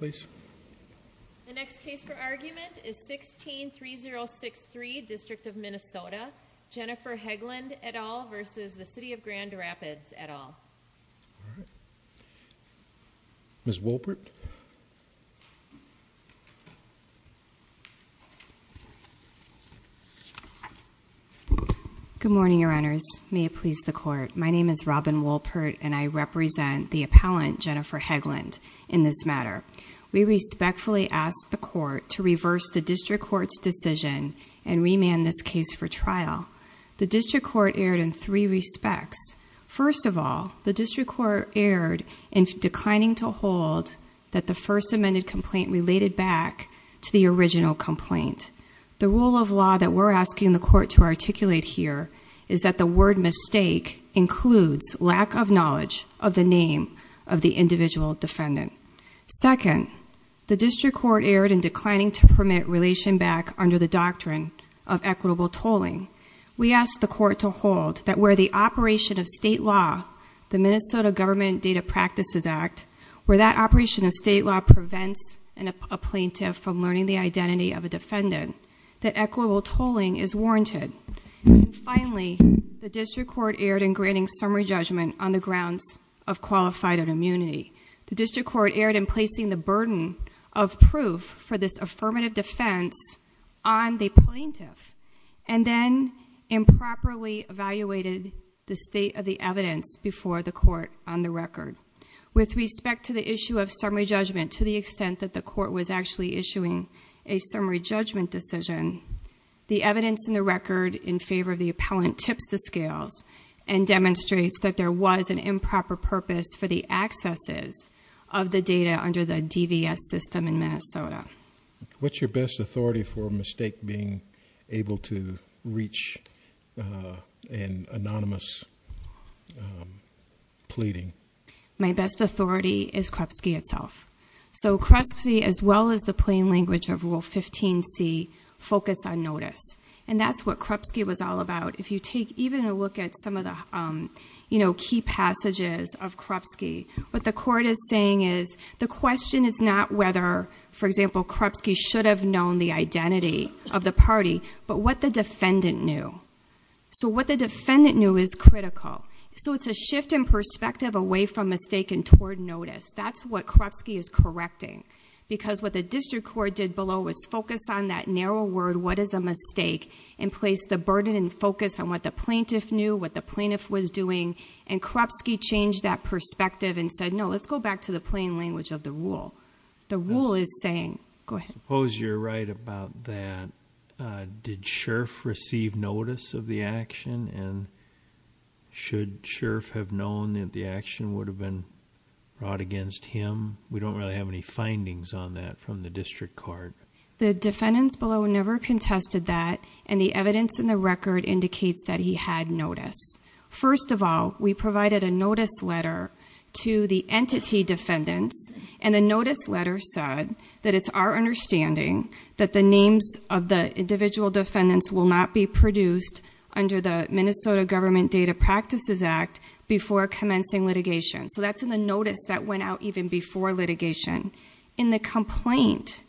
The next case for argument is 16-3063, District of Minnesota. Jennifer Heglund et al. v. City of Grand Rapids et al. Ms. Wolpert Good morning, Your Honors. May it please the Court. My name is Robin Wolpert and I represent the appellant, Jennifer Heglund, in this matter. We respectfully ask the Court to reverse the District Court's decision and remand this case for trial. The District Court erred in three respects. First of all, the District Court erred in declining to hold that the first amended complaint related back to the original complaint. The rule of law that we're asking the Court to articulate here is that the word mistake includes lack of knowledge of the name of the individual defendant. Second, the District Court erred in declining to permit relation back under the doctrine of equitable tolling. We ask the Court to hold that where the operation of state law, the Minnesota Government Data Practices Act, where that operation of state law prevents a plaintiff from learning the identity of a defendant, that equitable tolling is warranted. And finally, the District Court erred in granting summary judgment on the grounds of qualified immunity. The District Court erred in placing the burden of proof for this affirmative defense on the plaintiff, and then improperly evaluated the state of the evidence before the Court on the record. With respect to the issue of summary judgment, to the extent that the Court was actually issuing a summary judgment decision, the evidence in the record in favor of the appellant tips the scales and demonstrates that there was an improper purpose for the accesses of the data under the DVS system in Minnesota. What's your best authority for a mistake being able to reach an anonymous pleading? My best authority is Krupski itself. So Krupski, as well as the plain language of Rule 15c, focus on notice. And that's what Krupski was all about. If you take even a look at some of the key passages of Krupski, what the Court is saying is the question is not whether, for example, Krupski should have known the identity of the party, but what the defendant knew. So what the defendant knew is critical. So it's a shift in perspective away from mistake and toward notice. That's what Krupski is correcting. Because what the district court did below was focus on that narrow word, what is a mistake, and place the burden and focus on what the plaintiff knew, what the plaintiff was doing, and Krupski changed that perspective and said, no, let's go back to the plain language of the rule. The rule is saying, go ahead. Suppose you're right about that. Did Sheriff receive notice of the action? And should Sheriff have known that the action would have been brought against him? We don't really have any findings on that from the district court. The defendants below never contested that, and the evidence in the record indicates that he had notice. First of all, we provided a notice letter to the entity defendants, and the notice letter said that it's our understanding that the names of the individual defendants will not be produced under the Minnesota Government Data Practices Act before commencing litigation. So that's in the notice that went out even before litigation. In the complaint,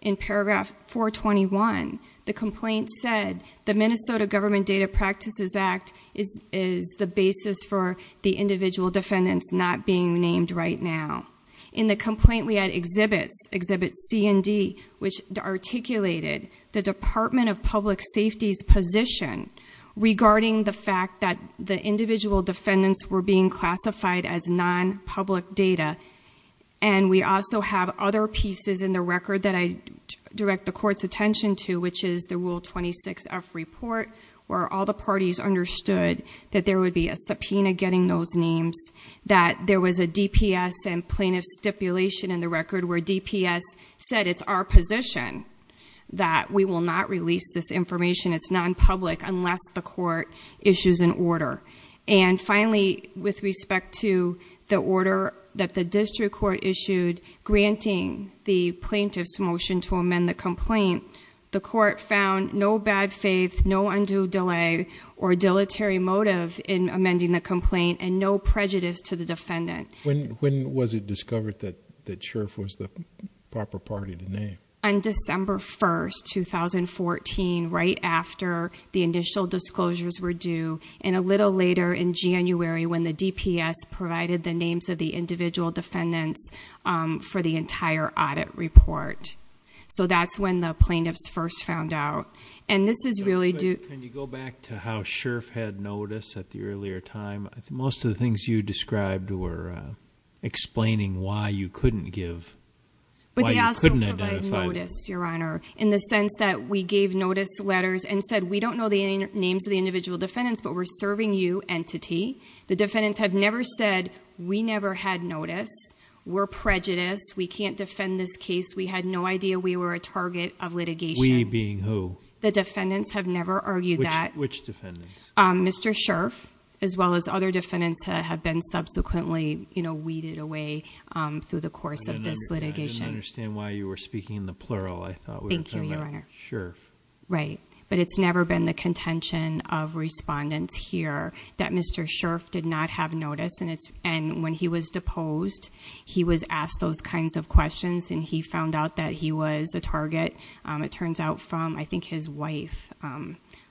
in paragraph 421, the complaint said the Minnesota Government Data Practices Act is the basis for the individual defendants not being named right now. In the complaint, we had exhibits, exhibits C and D, which articulated the Department of Public Safety's position regarding the fact that the individual defendants were being classified as non-public data. And we also have other pieces in the record that I direct the court's attention to, which is the Rule 26F report, where all the parties understood that there would be a subpoena getting those names, that there was a DPS and plaintiff stipulation in the record where DPS said it's our position that we will not release this information, it's non-public, unless the court issues an order. And finally, with respect to the order that the district court issued granting the plaintiff's motion to amend the complaint, the court found no bad faith, no undue delay, or dilatory motive in amending the complaint, and no prejudice to the defendant. When was it discovered that Sheriff was the proper party to name? On December 1, 2014, right after the initial disclosures were due, and a little later in January when the DPS provided the names of the individual defendants for the entire audit report. So that's when the plaintiffs first found out. And this is really due... Can you go back to how Sheriff had notice at the earlier time? Most of the things you described were explaining why you couldn't give, why you couldn't identify... But they also provided notice, Your Honor, in the sense that we gave notice letters and said, we don't know the names of the individual defendants, but we're serving you, entity. The defendants had never said, we never had notice, we're prejudiced, we can't defend this case, we had no idea we were a target of litigation. We being who? The defendants have never argued that. Which defendants? Mr. Sheriff, as well as other defendants that have been subsequently weeded away through the course of this litigation. I didn't understand why you were speaking in the plural, I thought we were talking about Sheriff. Right. But it's never been the contention of respondents here that Mr. Sheriff did not have notice, and when he was deposed, he was asked those kinds of questions, and he found out that he was a target. It turns out from, I think, his wife,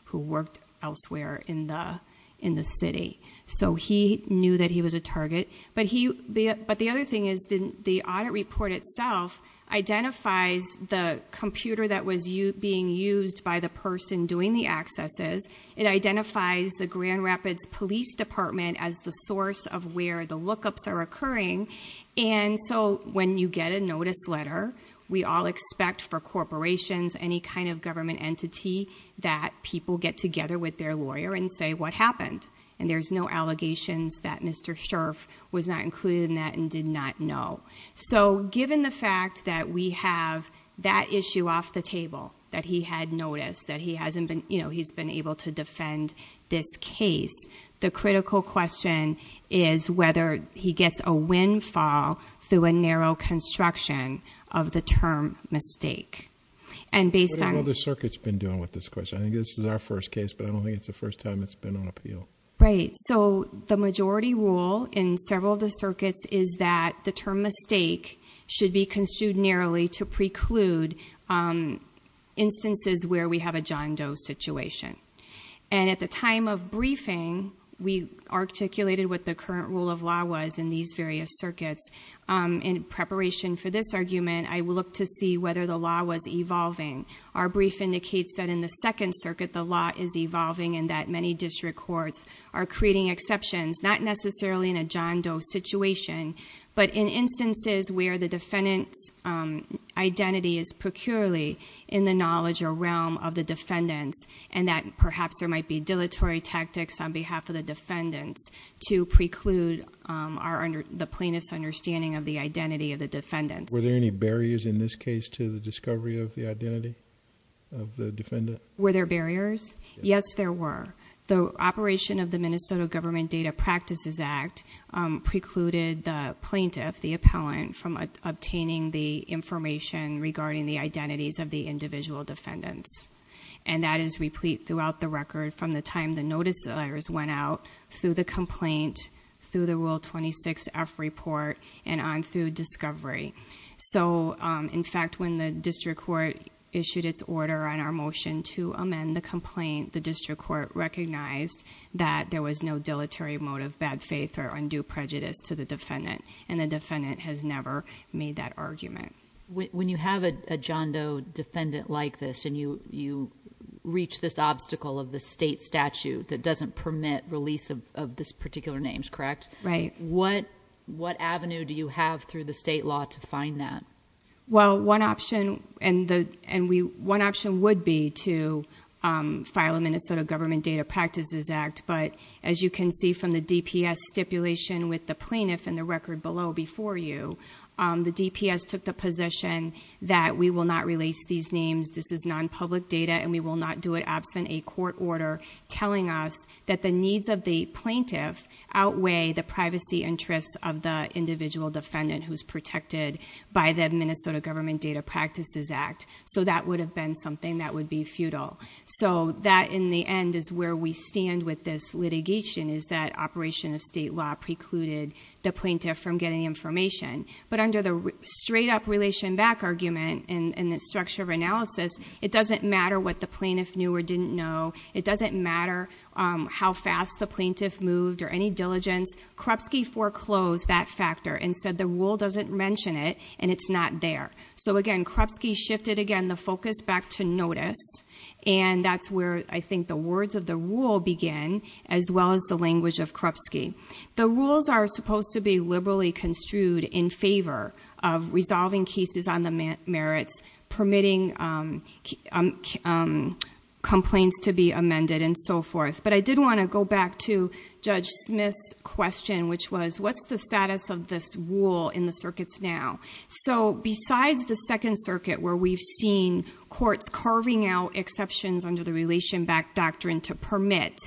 who worked elsewhere in the city. So he knew that he was a target. But the other thing is the audit report itself identifies the computer that was being used by the person doing the accesses. It identifies the Grand Rapids Police Department as the source of where the lookups are occurring. And so when you get a notice letter, we all expect for corporations, any kind of government entity, that people get together with their lawyer and say what happened. And there's no allegations that Mr. Sheriff was not included in that and did not know. So given the fact that we have that issue off the table, that he had noticed, that he's been able to defend this case, the critical question is whether he gets a windfall through a narrow construction of the term mistake. What have other circuits been doing with this question? I think this is our first case, but I don't think it's the first time it's been on appeal. Right. So the majority rule in several of the circuits is that the term mistake should be construed narrowly to preclude instances where we have a John Doe situation. And at the time of briefing, we articulated what the current rule of law was in these various circuits. In preparation for this argument, I will look to see whether the law was evolving. Our brief indicates that in the second circuit, the law is evolving, and that many district courts are creating exceptions, not necessarily in a John Doe situation, but in instances where the defendant's identity is peculiarly in the knowledge or realm of the defendants, and that perhaps there might be dilatory tactics on behalf of the defendants to preclude the plaintiff's understanding of the identity of the defendants. Were there any barriers in this case to the discovery of the identity of the defendant? Were there barriers? Yes, there were. The operation of the Minnesota Government Data Practices Act precluded the plaintiff, the appellant, from obtaining the information regarding the identities of the individual defendants, and that is replete throughout the record from the time the notice letters went out, through the complaint, through the Rule 26F report, and on through discovery. So, in fact, when the district court issued its order on our motion to amend the complaint, the district court recognized that there was no dilatory mode of bad faith or undue prejudice to the defendant, and the defendant has never made that argument. When you have a John Doe defendant like this, and you reach this obstacle of the state statute that doesn't permit release of these particular names, correct? Right. What avenue do you have through the state law to find that? Well, one option would be to file a Minnesota Government Data Practices Act, but as you can see from the DPS stipulation with the plaintiff in the record below before you, the DPS took the position that we will not release these names, this is non-public data, and we will not do it absent a court order telling us that the needs of the plaintiff outweigh the privacy interests of the individual defendant who is protected by the Minnesota Government Data Practices Act. So that would have been something that would be futile. So that, in the end, is where we stand with this litigation, is that operation of state law precluded the plaintiff from getting information. But under the straight-up relation back argument and the structure of analysis, it doesn't matter what the plaintiff knew or didn't know. It doesn't matter how fast the plaintiff moved or any diligence. Krupski foreclosed that factor and said the rule doesn't mention it, and it's not there. So, again, Krupski shifted, again, the focus back to notice, and that's where I think the words of the rule begin, as well as the language of Krupski. The rules are supposed to be liberally construed in favor of resolving cases on the merits, permitting complaints to be amended, and so forth. But I did want to go back to Judge Smith's question, which was, what's the status of this rule in the circuits now? So besides the Second Circuit, where we've seen courts carving out exceptions under the relation back doctrine to permit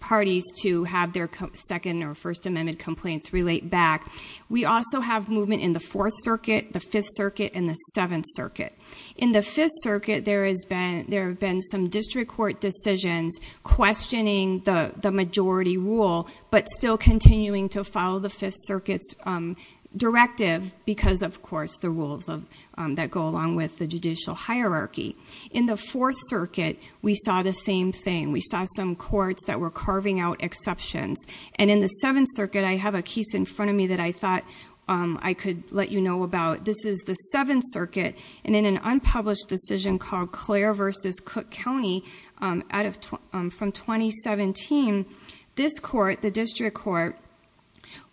parties to have their Second or First Amendment complaints relate back, we also have movement in the Fourth Circuit, the Fifth Circuit, and the Seventh Circuit. In the Fifth Circuit, there have been some district court decisions questioning the majority rule, but still continuing to follow the Fifth Circuit's directive because, of course, the rules that go along with the judicial hierarchy. In the Fourth Circuit, we saw the same thing. We saw some courts that were carving out exceptions. And in the Seventh Circuit, I have a case in front of me that I thought I could let you know about. This is the Seventh Circuit, and in an unpublished decision called Clare v. Cook County from 2017, this court, the district court,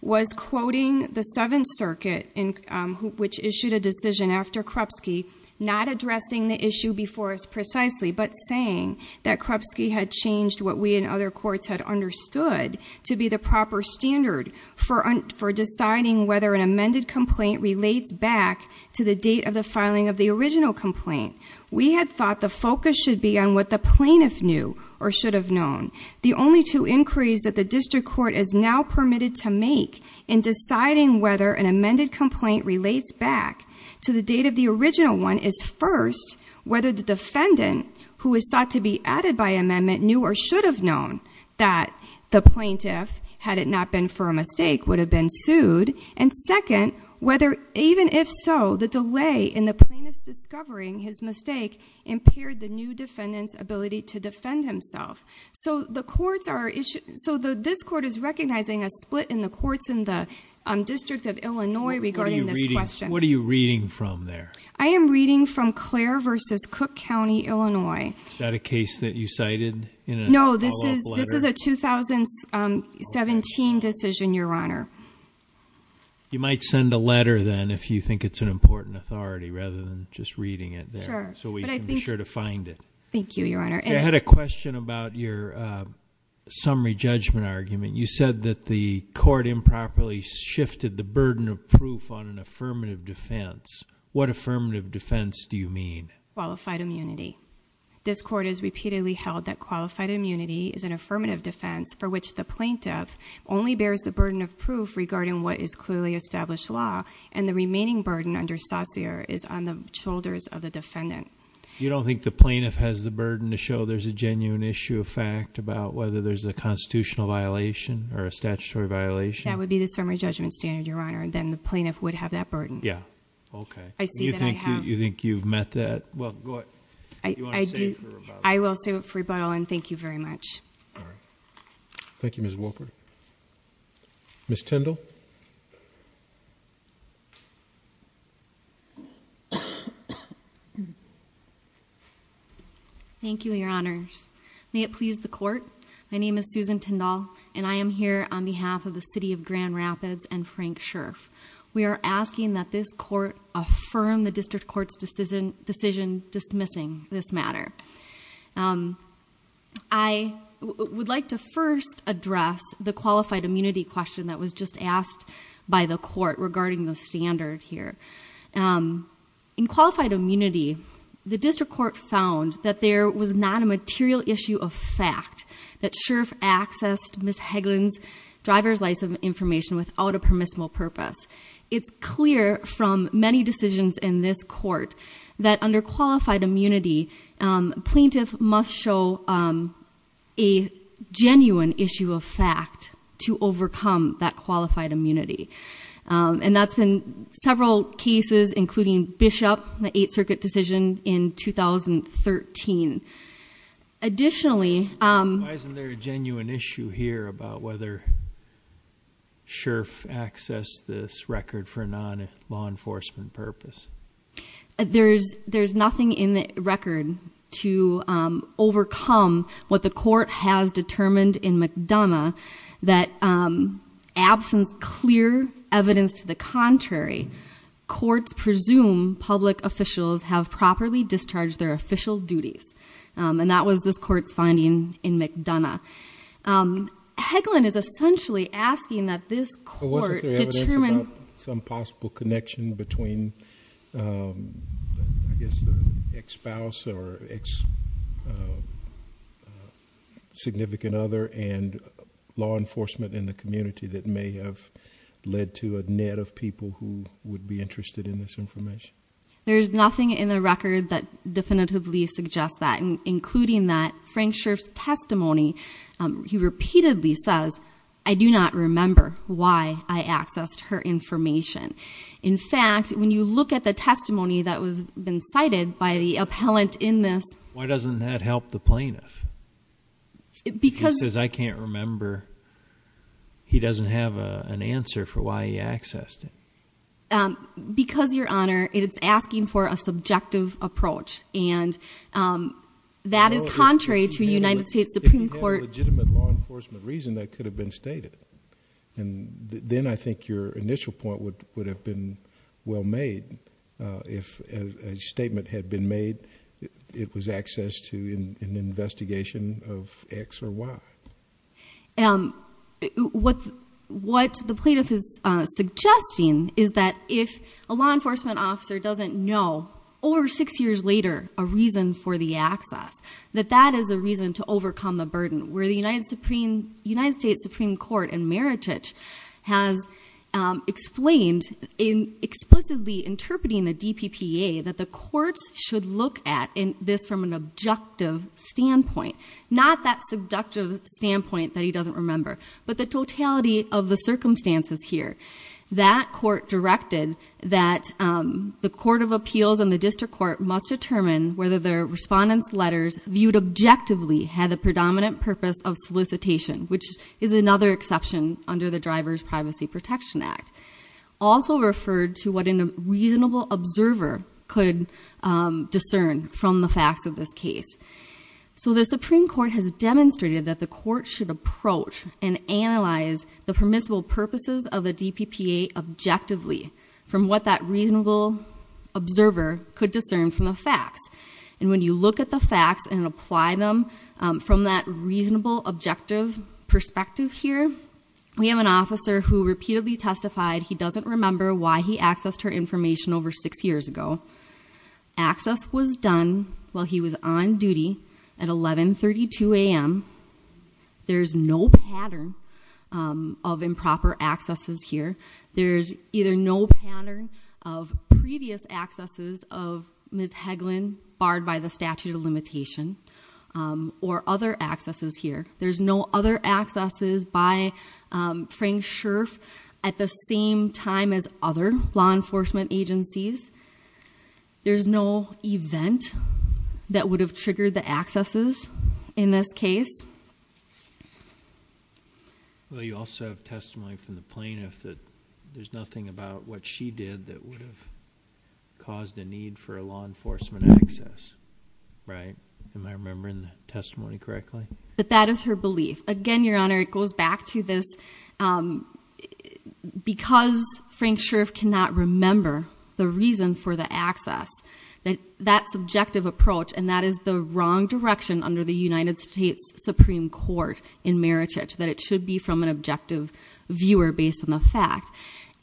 was quoting the Seventh Circuit, which issued a decision after Krupsky, not addressing the issue before us precisely, but saying that Krupsky had changed what we and other courts had understood to be the proper standard for deciding whether an amended complaint relates back to the date of the filing of the original complaint. We had thought the focus should be on what the plaintiff knew or should have known. The only two inquiries that the district court is now permitted to make in deciding whether an amended complaint relates back to the date of the original one is first, whether the defendant, who is thought to be added by amendment, knew or should have known that the plaintiff, had it not been for a mistake, would have been sued, and second, whether even if so, the delay in the plaintiff's discovering his mistake impaired the new defendant's ability to defend himself. So this court is recognizing a split in the courts in the District of Illinois regarding this question. What are you reading from there? I am reading from Clare v. Cook County, Illinois. Is that a case that you cited in a follow-up letter? No, this is a 2017 decision, Your Honor. You might send a letter then if you think it's an important authority, rather than just reading it there. So we can be sure to find it. Thank you, Your Honor. I had a question about your summary judgment argument. You said that the court improperly shifted the burden of proof on an affirmative defense. What affirmative defense do you mean? Qualified immunity. This court has repeatedly held that qualified immunity is an affirmative defense for which the plaintiff only bears the burden of proof regarding what is clearly established law, and the remaining burden under saucere is on the shoulders of the defendant. You don't think the plaintiff has the burden to show there's a genuine issue of fact about whether there's a constitutional violation or a statutory violation? That would be the summary judgment standard, Your Honor. Then the plaintiff would have that burden. Yeah, okay. Do you think you've met that? I will save it for rebuttal, and thank you very much. Thank you, Ms. Wolpert. Ms. Tindall? Thank you, Your Honors. May it please the court, my name is Susan Tindall, and I am here on behalf of the city of Grand Rapids and Frank Scherff. We are asking that this court affirm the district court's decision dismissing this matter. I would like to first address the qualified immunity question that was just asked by the court regarding the standard here. In qualified immunity, the district court found that there was not a material issue of fact that Scherff accessed Ms. Hagelin's driver's license information without a permissible purpose. It's clear from many decisions in this court that under qualified immunity, plaintiff must show a genuine issue of fact to overcome that qualified immunity. And that's been several cases, including Bishop, the Eighth Circuit decision in 2013. Additionally- Why isn't there a genuine issue here about whether Scherff accessed this record for non-law enforcement purpose? There's nothing in the record to overcome what the court has determined in McDonough that absence clear evidence to the contrary, courts presume public officials have properly discharged their official duties. And that was this court's finding in McDonough. Hagelin is essentially asking that this court determine- I guess the ex-spouse or ex-significant other and law enforcement in the community that may have led to a net of people who would be interested in this information. There's nothing in the record that definitively suggests that, including that Frank Scherff's testimony, he repeatedly says, I do not remember why I accessed her information. In fact, when you look at the testimony that has been cited by the appellant in this- Why doesn't that help the plaintiff? Because- He says, I can't remember. He doesn't have an answer for why he accessed it. Because, Your Honor, it's asking for a subjective approach. And that is contrary to United States Supreme Court- If you had legitimate law enforcement reason, that could have been stated. And then I think your initial point would have been well made. If a statement had been made, it was access to an investigation of X or Y. What the plaintiff is suggesting is that if a law enforcement officer doesn't know, over six years later, a reason for the access, where the United States Supreme Court in Meritage has explained, in explicitly interpreting the DPPA, that the courts should look at this from an objective standpoint. Not that seductive standpoint that he doesn't remember, but the totality of the circumstances here. That court directed that the court of appeals and the district court must determine whether the respondent's letters viewed objectively had the predominant purpose of solicitation, which is another exception under the Driver's Privacy Protection Act. Also referred to what a reasonable observer could discern from the facts of this case. So the Supreme Court has demonstrated that the court should approach and analyze the permissible purposes of the DPPA objectively from what that reasonable observer could discern from the facts. And when you look at the facts and apply them from that reasonable objective perspective here, we have an officer who repeatedly testified he doesn't remember why he accessed her information over six years ago. Access was done while he was on duty at 11.32 a.m. There's no pattern of improper accesses here. There's either no pattern of previous accesses of Ms. Hagelin barred by the statute of limitation or other accesses here. There's no other accesses by Frank Scherff at the same time as other law enforcement agencies. There's no event that would have triggered the accesses in this case. Well, you also have testimony from the plaintiff that there's nothing about what she did that would have caused a need for a law enforcement access, right? Am I remembering the testimony correctly? But that is her belief. Again, Your Honor, it goes back to this. Because Frank Scherff cannot remember the reason for the access, that subjective approach, and that is the wrong direction under the United States Supreme Court in Merichich, that it should be from an objective viewer based on the fact.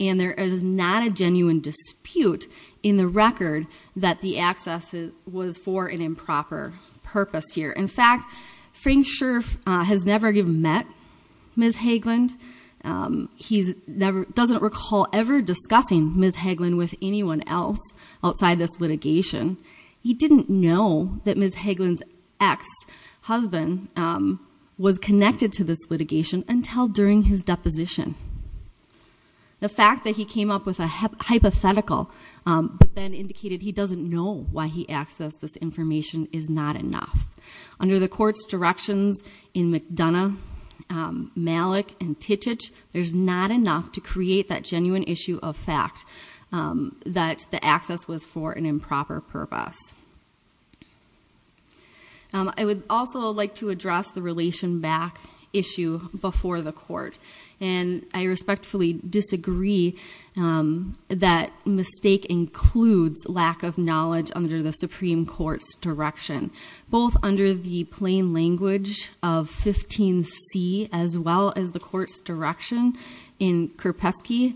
And there is not a genuine dispute in the record that the access was for an improper purpose here. In fact, Frank Scherff has never even met Ms. Hagelin. He doesn't recall ever discussing Ms. Hagelin with anyone else outside this litigation. He didn't know that Ms. Hagelin's ex-husband was connected to this litigation until during his deposition. The fact that he came up with a hypothetical but then indicated he doesn't know why he accessed this information is not enough. Under the court's directions in McDonough, Malik, and Tichich, there's not enough to create that genuine issue of fact that the access was for an improper purpose. I would also like to address the relation back issue before the court. And I respectfully disagree that mistake includes lack of knowledge under the Supreme Court's direction. Both under the plain language of 15C, as well as the court's direction in Krupski,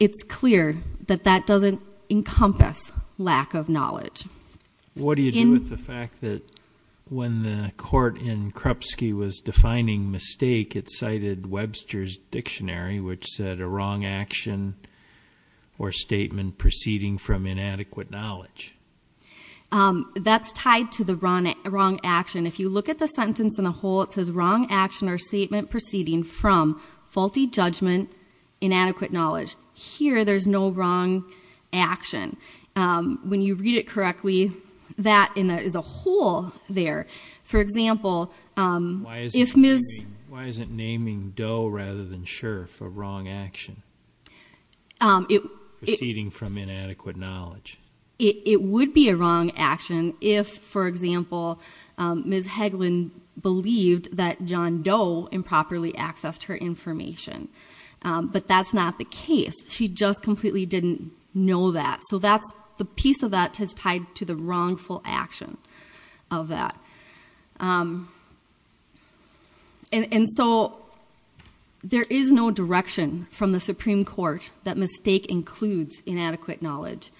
it's clear that that doesn't encompass lack of knowledge. What do you do with the fact that when the court in Krupski was defining mistake, it cited Webster's Dictionary, which said a wrong action or statement proceeding from inadequate knowledge? That's tied to the wrong action. If you look at the sentence in a whole, it says wrong action or statement proceeding from faulty judgment, inadequate knowledge. Here, there's no wrong action. When you read it correctly, that is a whole there. For example, if Ms. Why isn't naming Doe rather than Scherff a wrong action? Proceeding from inadequate knowledge. It would be a wrong action if, for example, Ms. Hagelin believed that John Doe improperly accessed her information. But that's not the case. She just completely didn't know that. So the piece of that is tied to the wrongful action of that. And so there is no direction from the Supreme Court that mistake includes inadequate knowledge.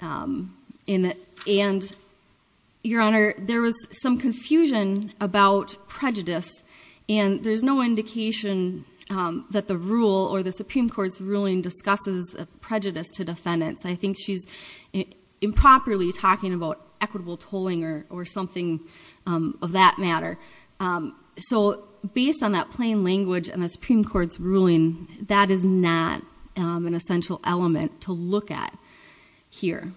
And Your Honor, there was some confusion about prejudice. And there's no indication that the rule or the Supreme Court's ruling discusses prejudice to defendants. I think she's improperly talking about equitable tolling or something of that matter. So based on that plain language and the Supreme Court's ruling, that is not an essential element to look at here.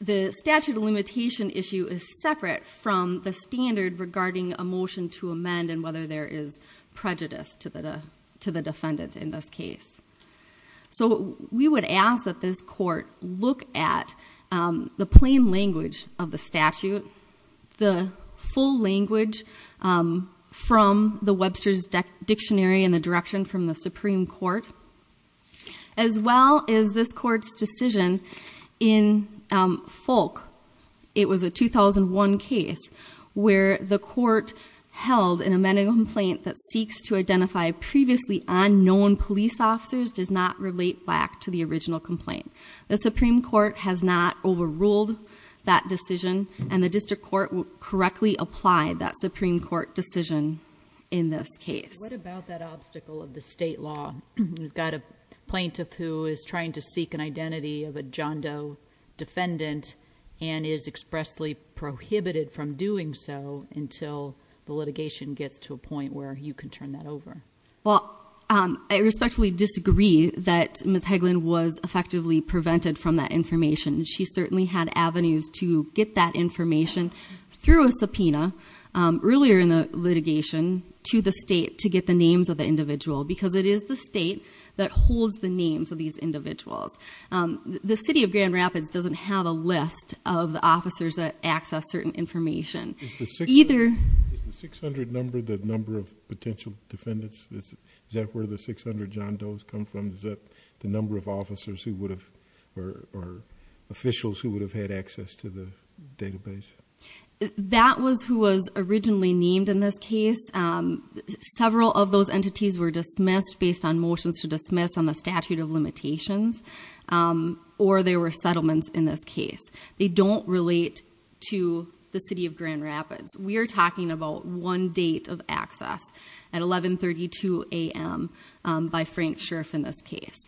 The statute of limitation issue is separate from the standard regarding a motion to amend and whether there is prejudice to the defendant in this case. So we would ask that this court look at the plain language of the statute, the full language from the Webster's Dictionary and the direction from the Supreme Court, as well as this court's decision in Folk. It was a 2001 case where the court held an amending complaint that seeks to identify previously unknown police officers does not relate back to the original complaint. The Supreme Court has not overruled that decision. And the district court correctly applied that Supreme Court decision in this case. What about that obstacle of the state law? We've got a plaintiff who is trying to seek an identity of a John Doe defendant and is expressly prohibited from doing so until the litigation gets to a point where you can turn that over. Well, I respectfully disagree that Ms. Hagelin was effectively prevented from that information. She certainly had avenues to get that information through a subpoena earlier in the litigation to the state to get the names of the individual because it is the state that holds the names of these individuals. The city of Grand Rapids doesn't have a list of the officers that access certain information. Is the 600 number the number of potential defendants? Is that where the 600 John Does come from? Is that the number of officers or officials who would have had access to the database? That was who was originally named in this case. Several of those entities were dismissed based on motions to dismiss on the statute of limitations or there were settlements in this case. They don't relate to the city of Grand Rapids. We are talking about one date of access at 11.32 a.m. by Frank Scherff in this case.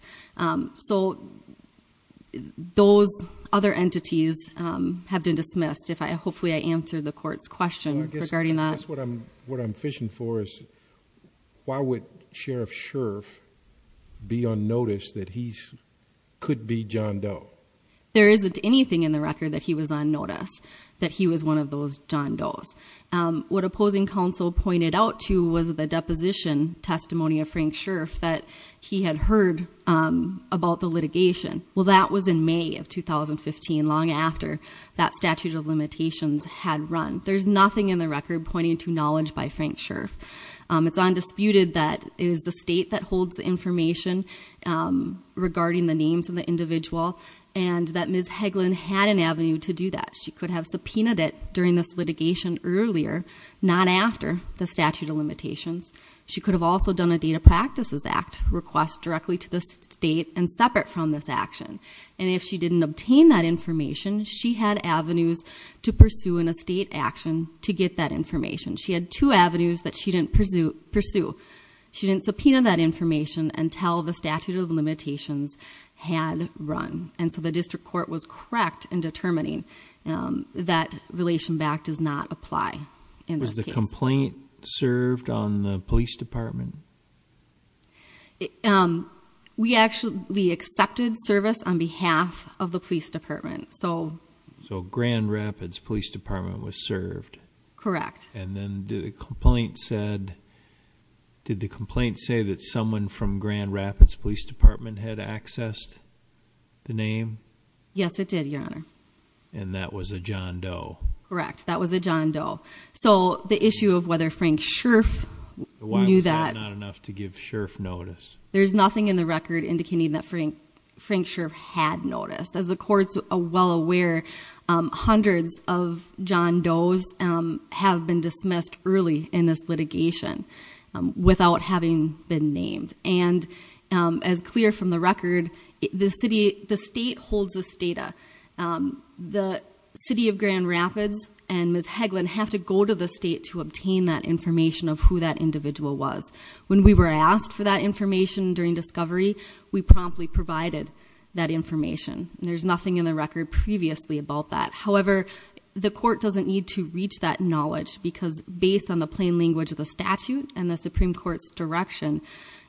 So those other entities have been dismissed. Hopefully I answered the court's question regarding that. I guess what I'm fishing for is why would Sheriff Scherff be on notice that he could be John Doe? There isn't anything in the record that he was on notice that he was one of those John Does. What opposing counsel pointed out to was the deposition testimony of Frank Scherff that he had heard about the litigation. Well, that was in May of 2015, long after that statute of limitations had run. There's nothing in the record pointing to knowledge by Frank Scherff. It's undisputed that it is the state that holds the information regarding the names of the individual and that Ms. Hagelin had an avenue to do that. She could have subpoenaed it during this litigation earlier, not after the statute of limitations. She could have also done a Data Practices Act request directly to the state and separate from this action. And if she didn't obtain that information, she had avenues to pursue in a state action to get that information. She had two avenues that she didn't pursue. She didn't subpoena that information until the statute of limitations had run. And so the district court was correct in determining that Relation Back does not apply in this case. Was the complaint served on the police department? We actually accepted service on behalf of the police department. So Grand Rapids Police Department was served. Correct. And then the complaint said, did the complaint say that someone from Grand Rapids Police Department had accessed the name? Yes, it did, Your Honor. And that was a John Doe. Correct. That was a John Doe. So the issue of whether Frank Scherf knew that... Why was that not enough to give Scherf notice? There's nothing in the record indicating that Frank Scherf had noticed. As the courts are well aware, hundreds of John Does have been dismissed early in this litigation without having been named. And as clear from the record, the state holds this data. The city of Grand Rapids and Ms. Hagelin have to go to the state to obtain that information of who that individual was. When we were asked for that information during discovery, we promptly provided that information. There's nothing in the record previously about that. However, the court doesn't need to reach that knowledge because based on the plain language of the statute and the Supreme Court's direction,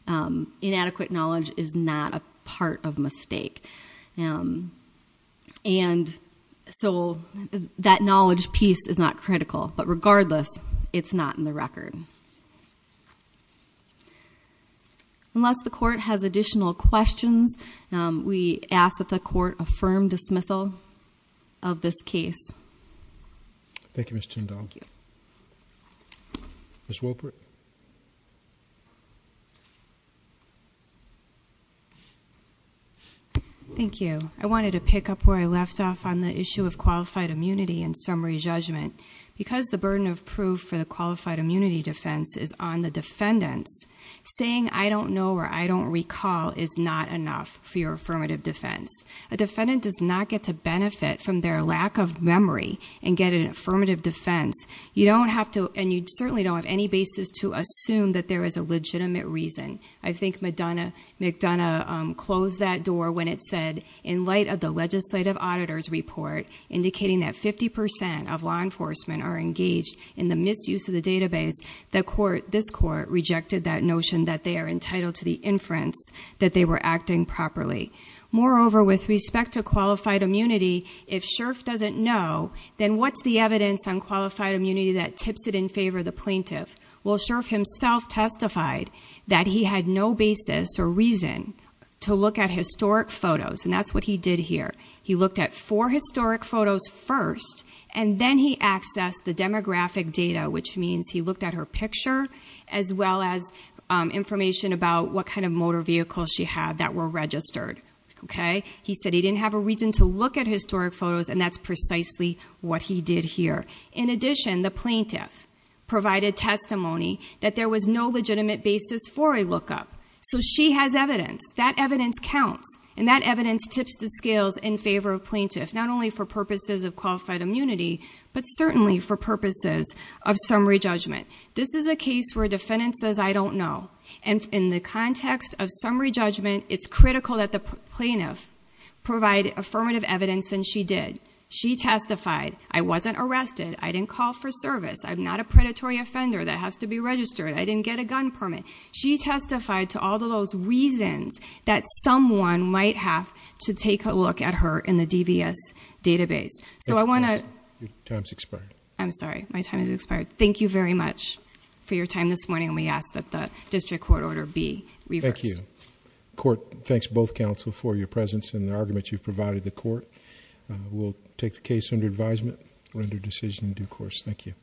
inadequate knowledge is not a part of mistake. And so that knowledge piece is not critical. But regardless, it's not in the record. Unless the court has additional questions, we ask that the court affirm dismissal of this case. Thank you, Ms. Tindall. Thank you. Ms. Wolpert. Thank you. I wanted to pick up where I left off on the issue of qualified immunity and summary judgment. Because the burden of proof for the qualified immunity defense is on the defendants, saying I don't know or I don't recall is not enough for your affirmative defense. A defendant does not get to benefit from their lack of memory and get an affirmative defense. And you certainly don't have any basis to assume that there is a legitimate reason. I think McDonough closed that door when it said, in light of the legislative auditor's report indicating that 50% of law enforcement are engaged in the misuse of the database, this court rejected that notion that they are entitled to the inference that they were acting properly. Moreover, with respect to qualified immunity, if Scherff doesn't know, then what's the evidence on qualified immunity that tips it in favor of the plaintiff? Well, Scherff himself testified that he had no basis or reason to look at historic photos. And that's what he did here. He looked at four historic photos first, and then he accessed the demographic data, which means he looked at her picture as well as information about what kind of motor vehicles she had that were registered. He said he didn't have a reason to look at historic photos, and that's precisely what he did here. In addition, the plaintiff provided testimony that there was no legitimate basis for a lookup. So she has evidence. That evidence counts, and that evidence tips the scales in favor of plaintiff, not only for purposes of qualified immunity, but certainly for purposes of summary judgment. This is a case where a defendant says, I don't know. And in the context of summary judgment, it's critical that the plaintiff provide affirmative evidence, and she did. She testified, I wasn't arrested. I didn't call for service. I'm not a predatory offender that has to be registered. I didn't get a gun permit. She testified to all of those reasons that someone might have to take a look at her in the DVS database. So I want to... Your time's expired. I'm sorry. My time has expired. Thank you very much for your time this morning, and we ask that the district court order be reversed. Thank you. The court thanks both counsel for your presence and the argument you've provided the court. We'll take the case under advisement, render decision in due course. Thank you.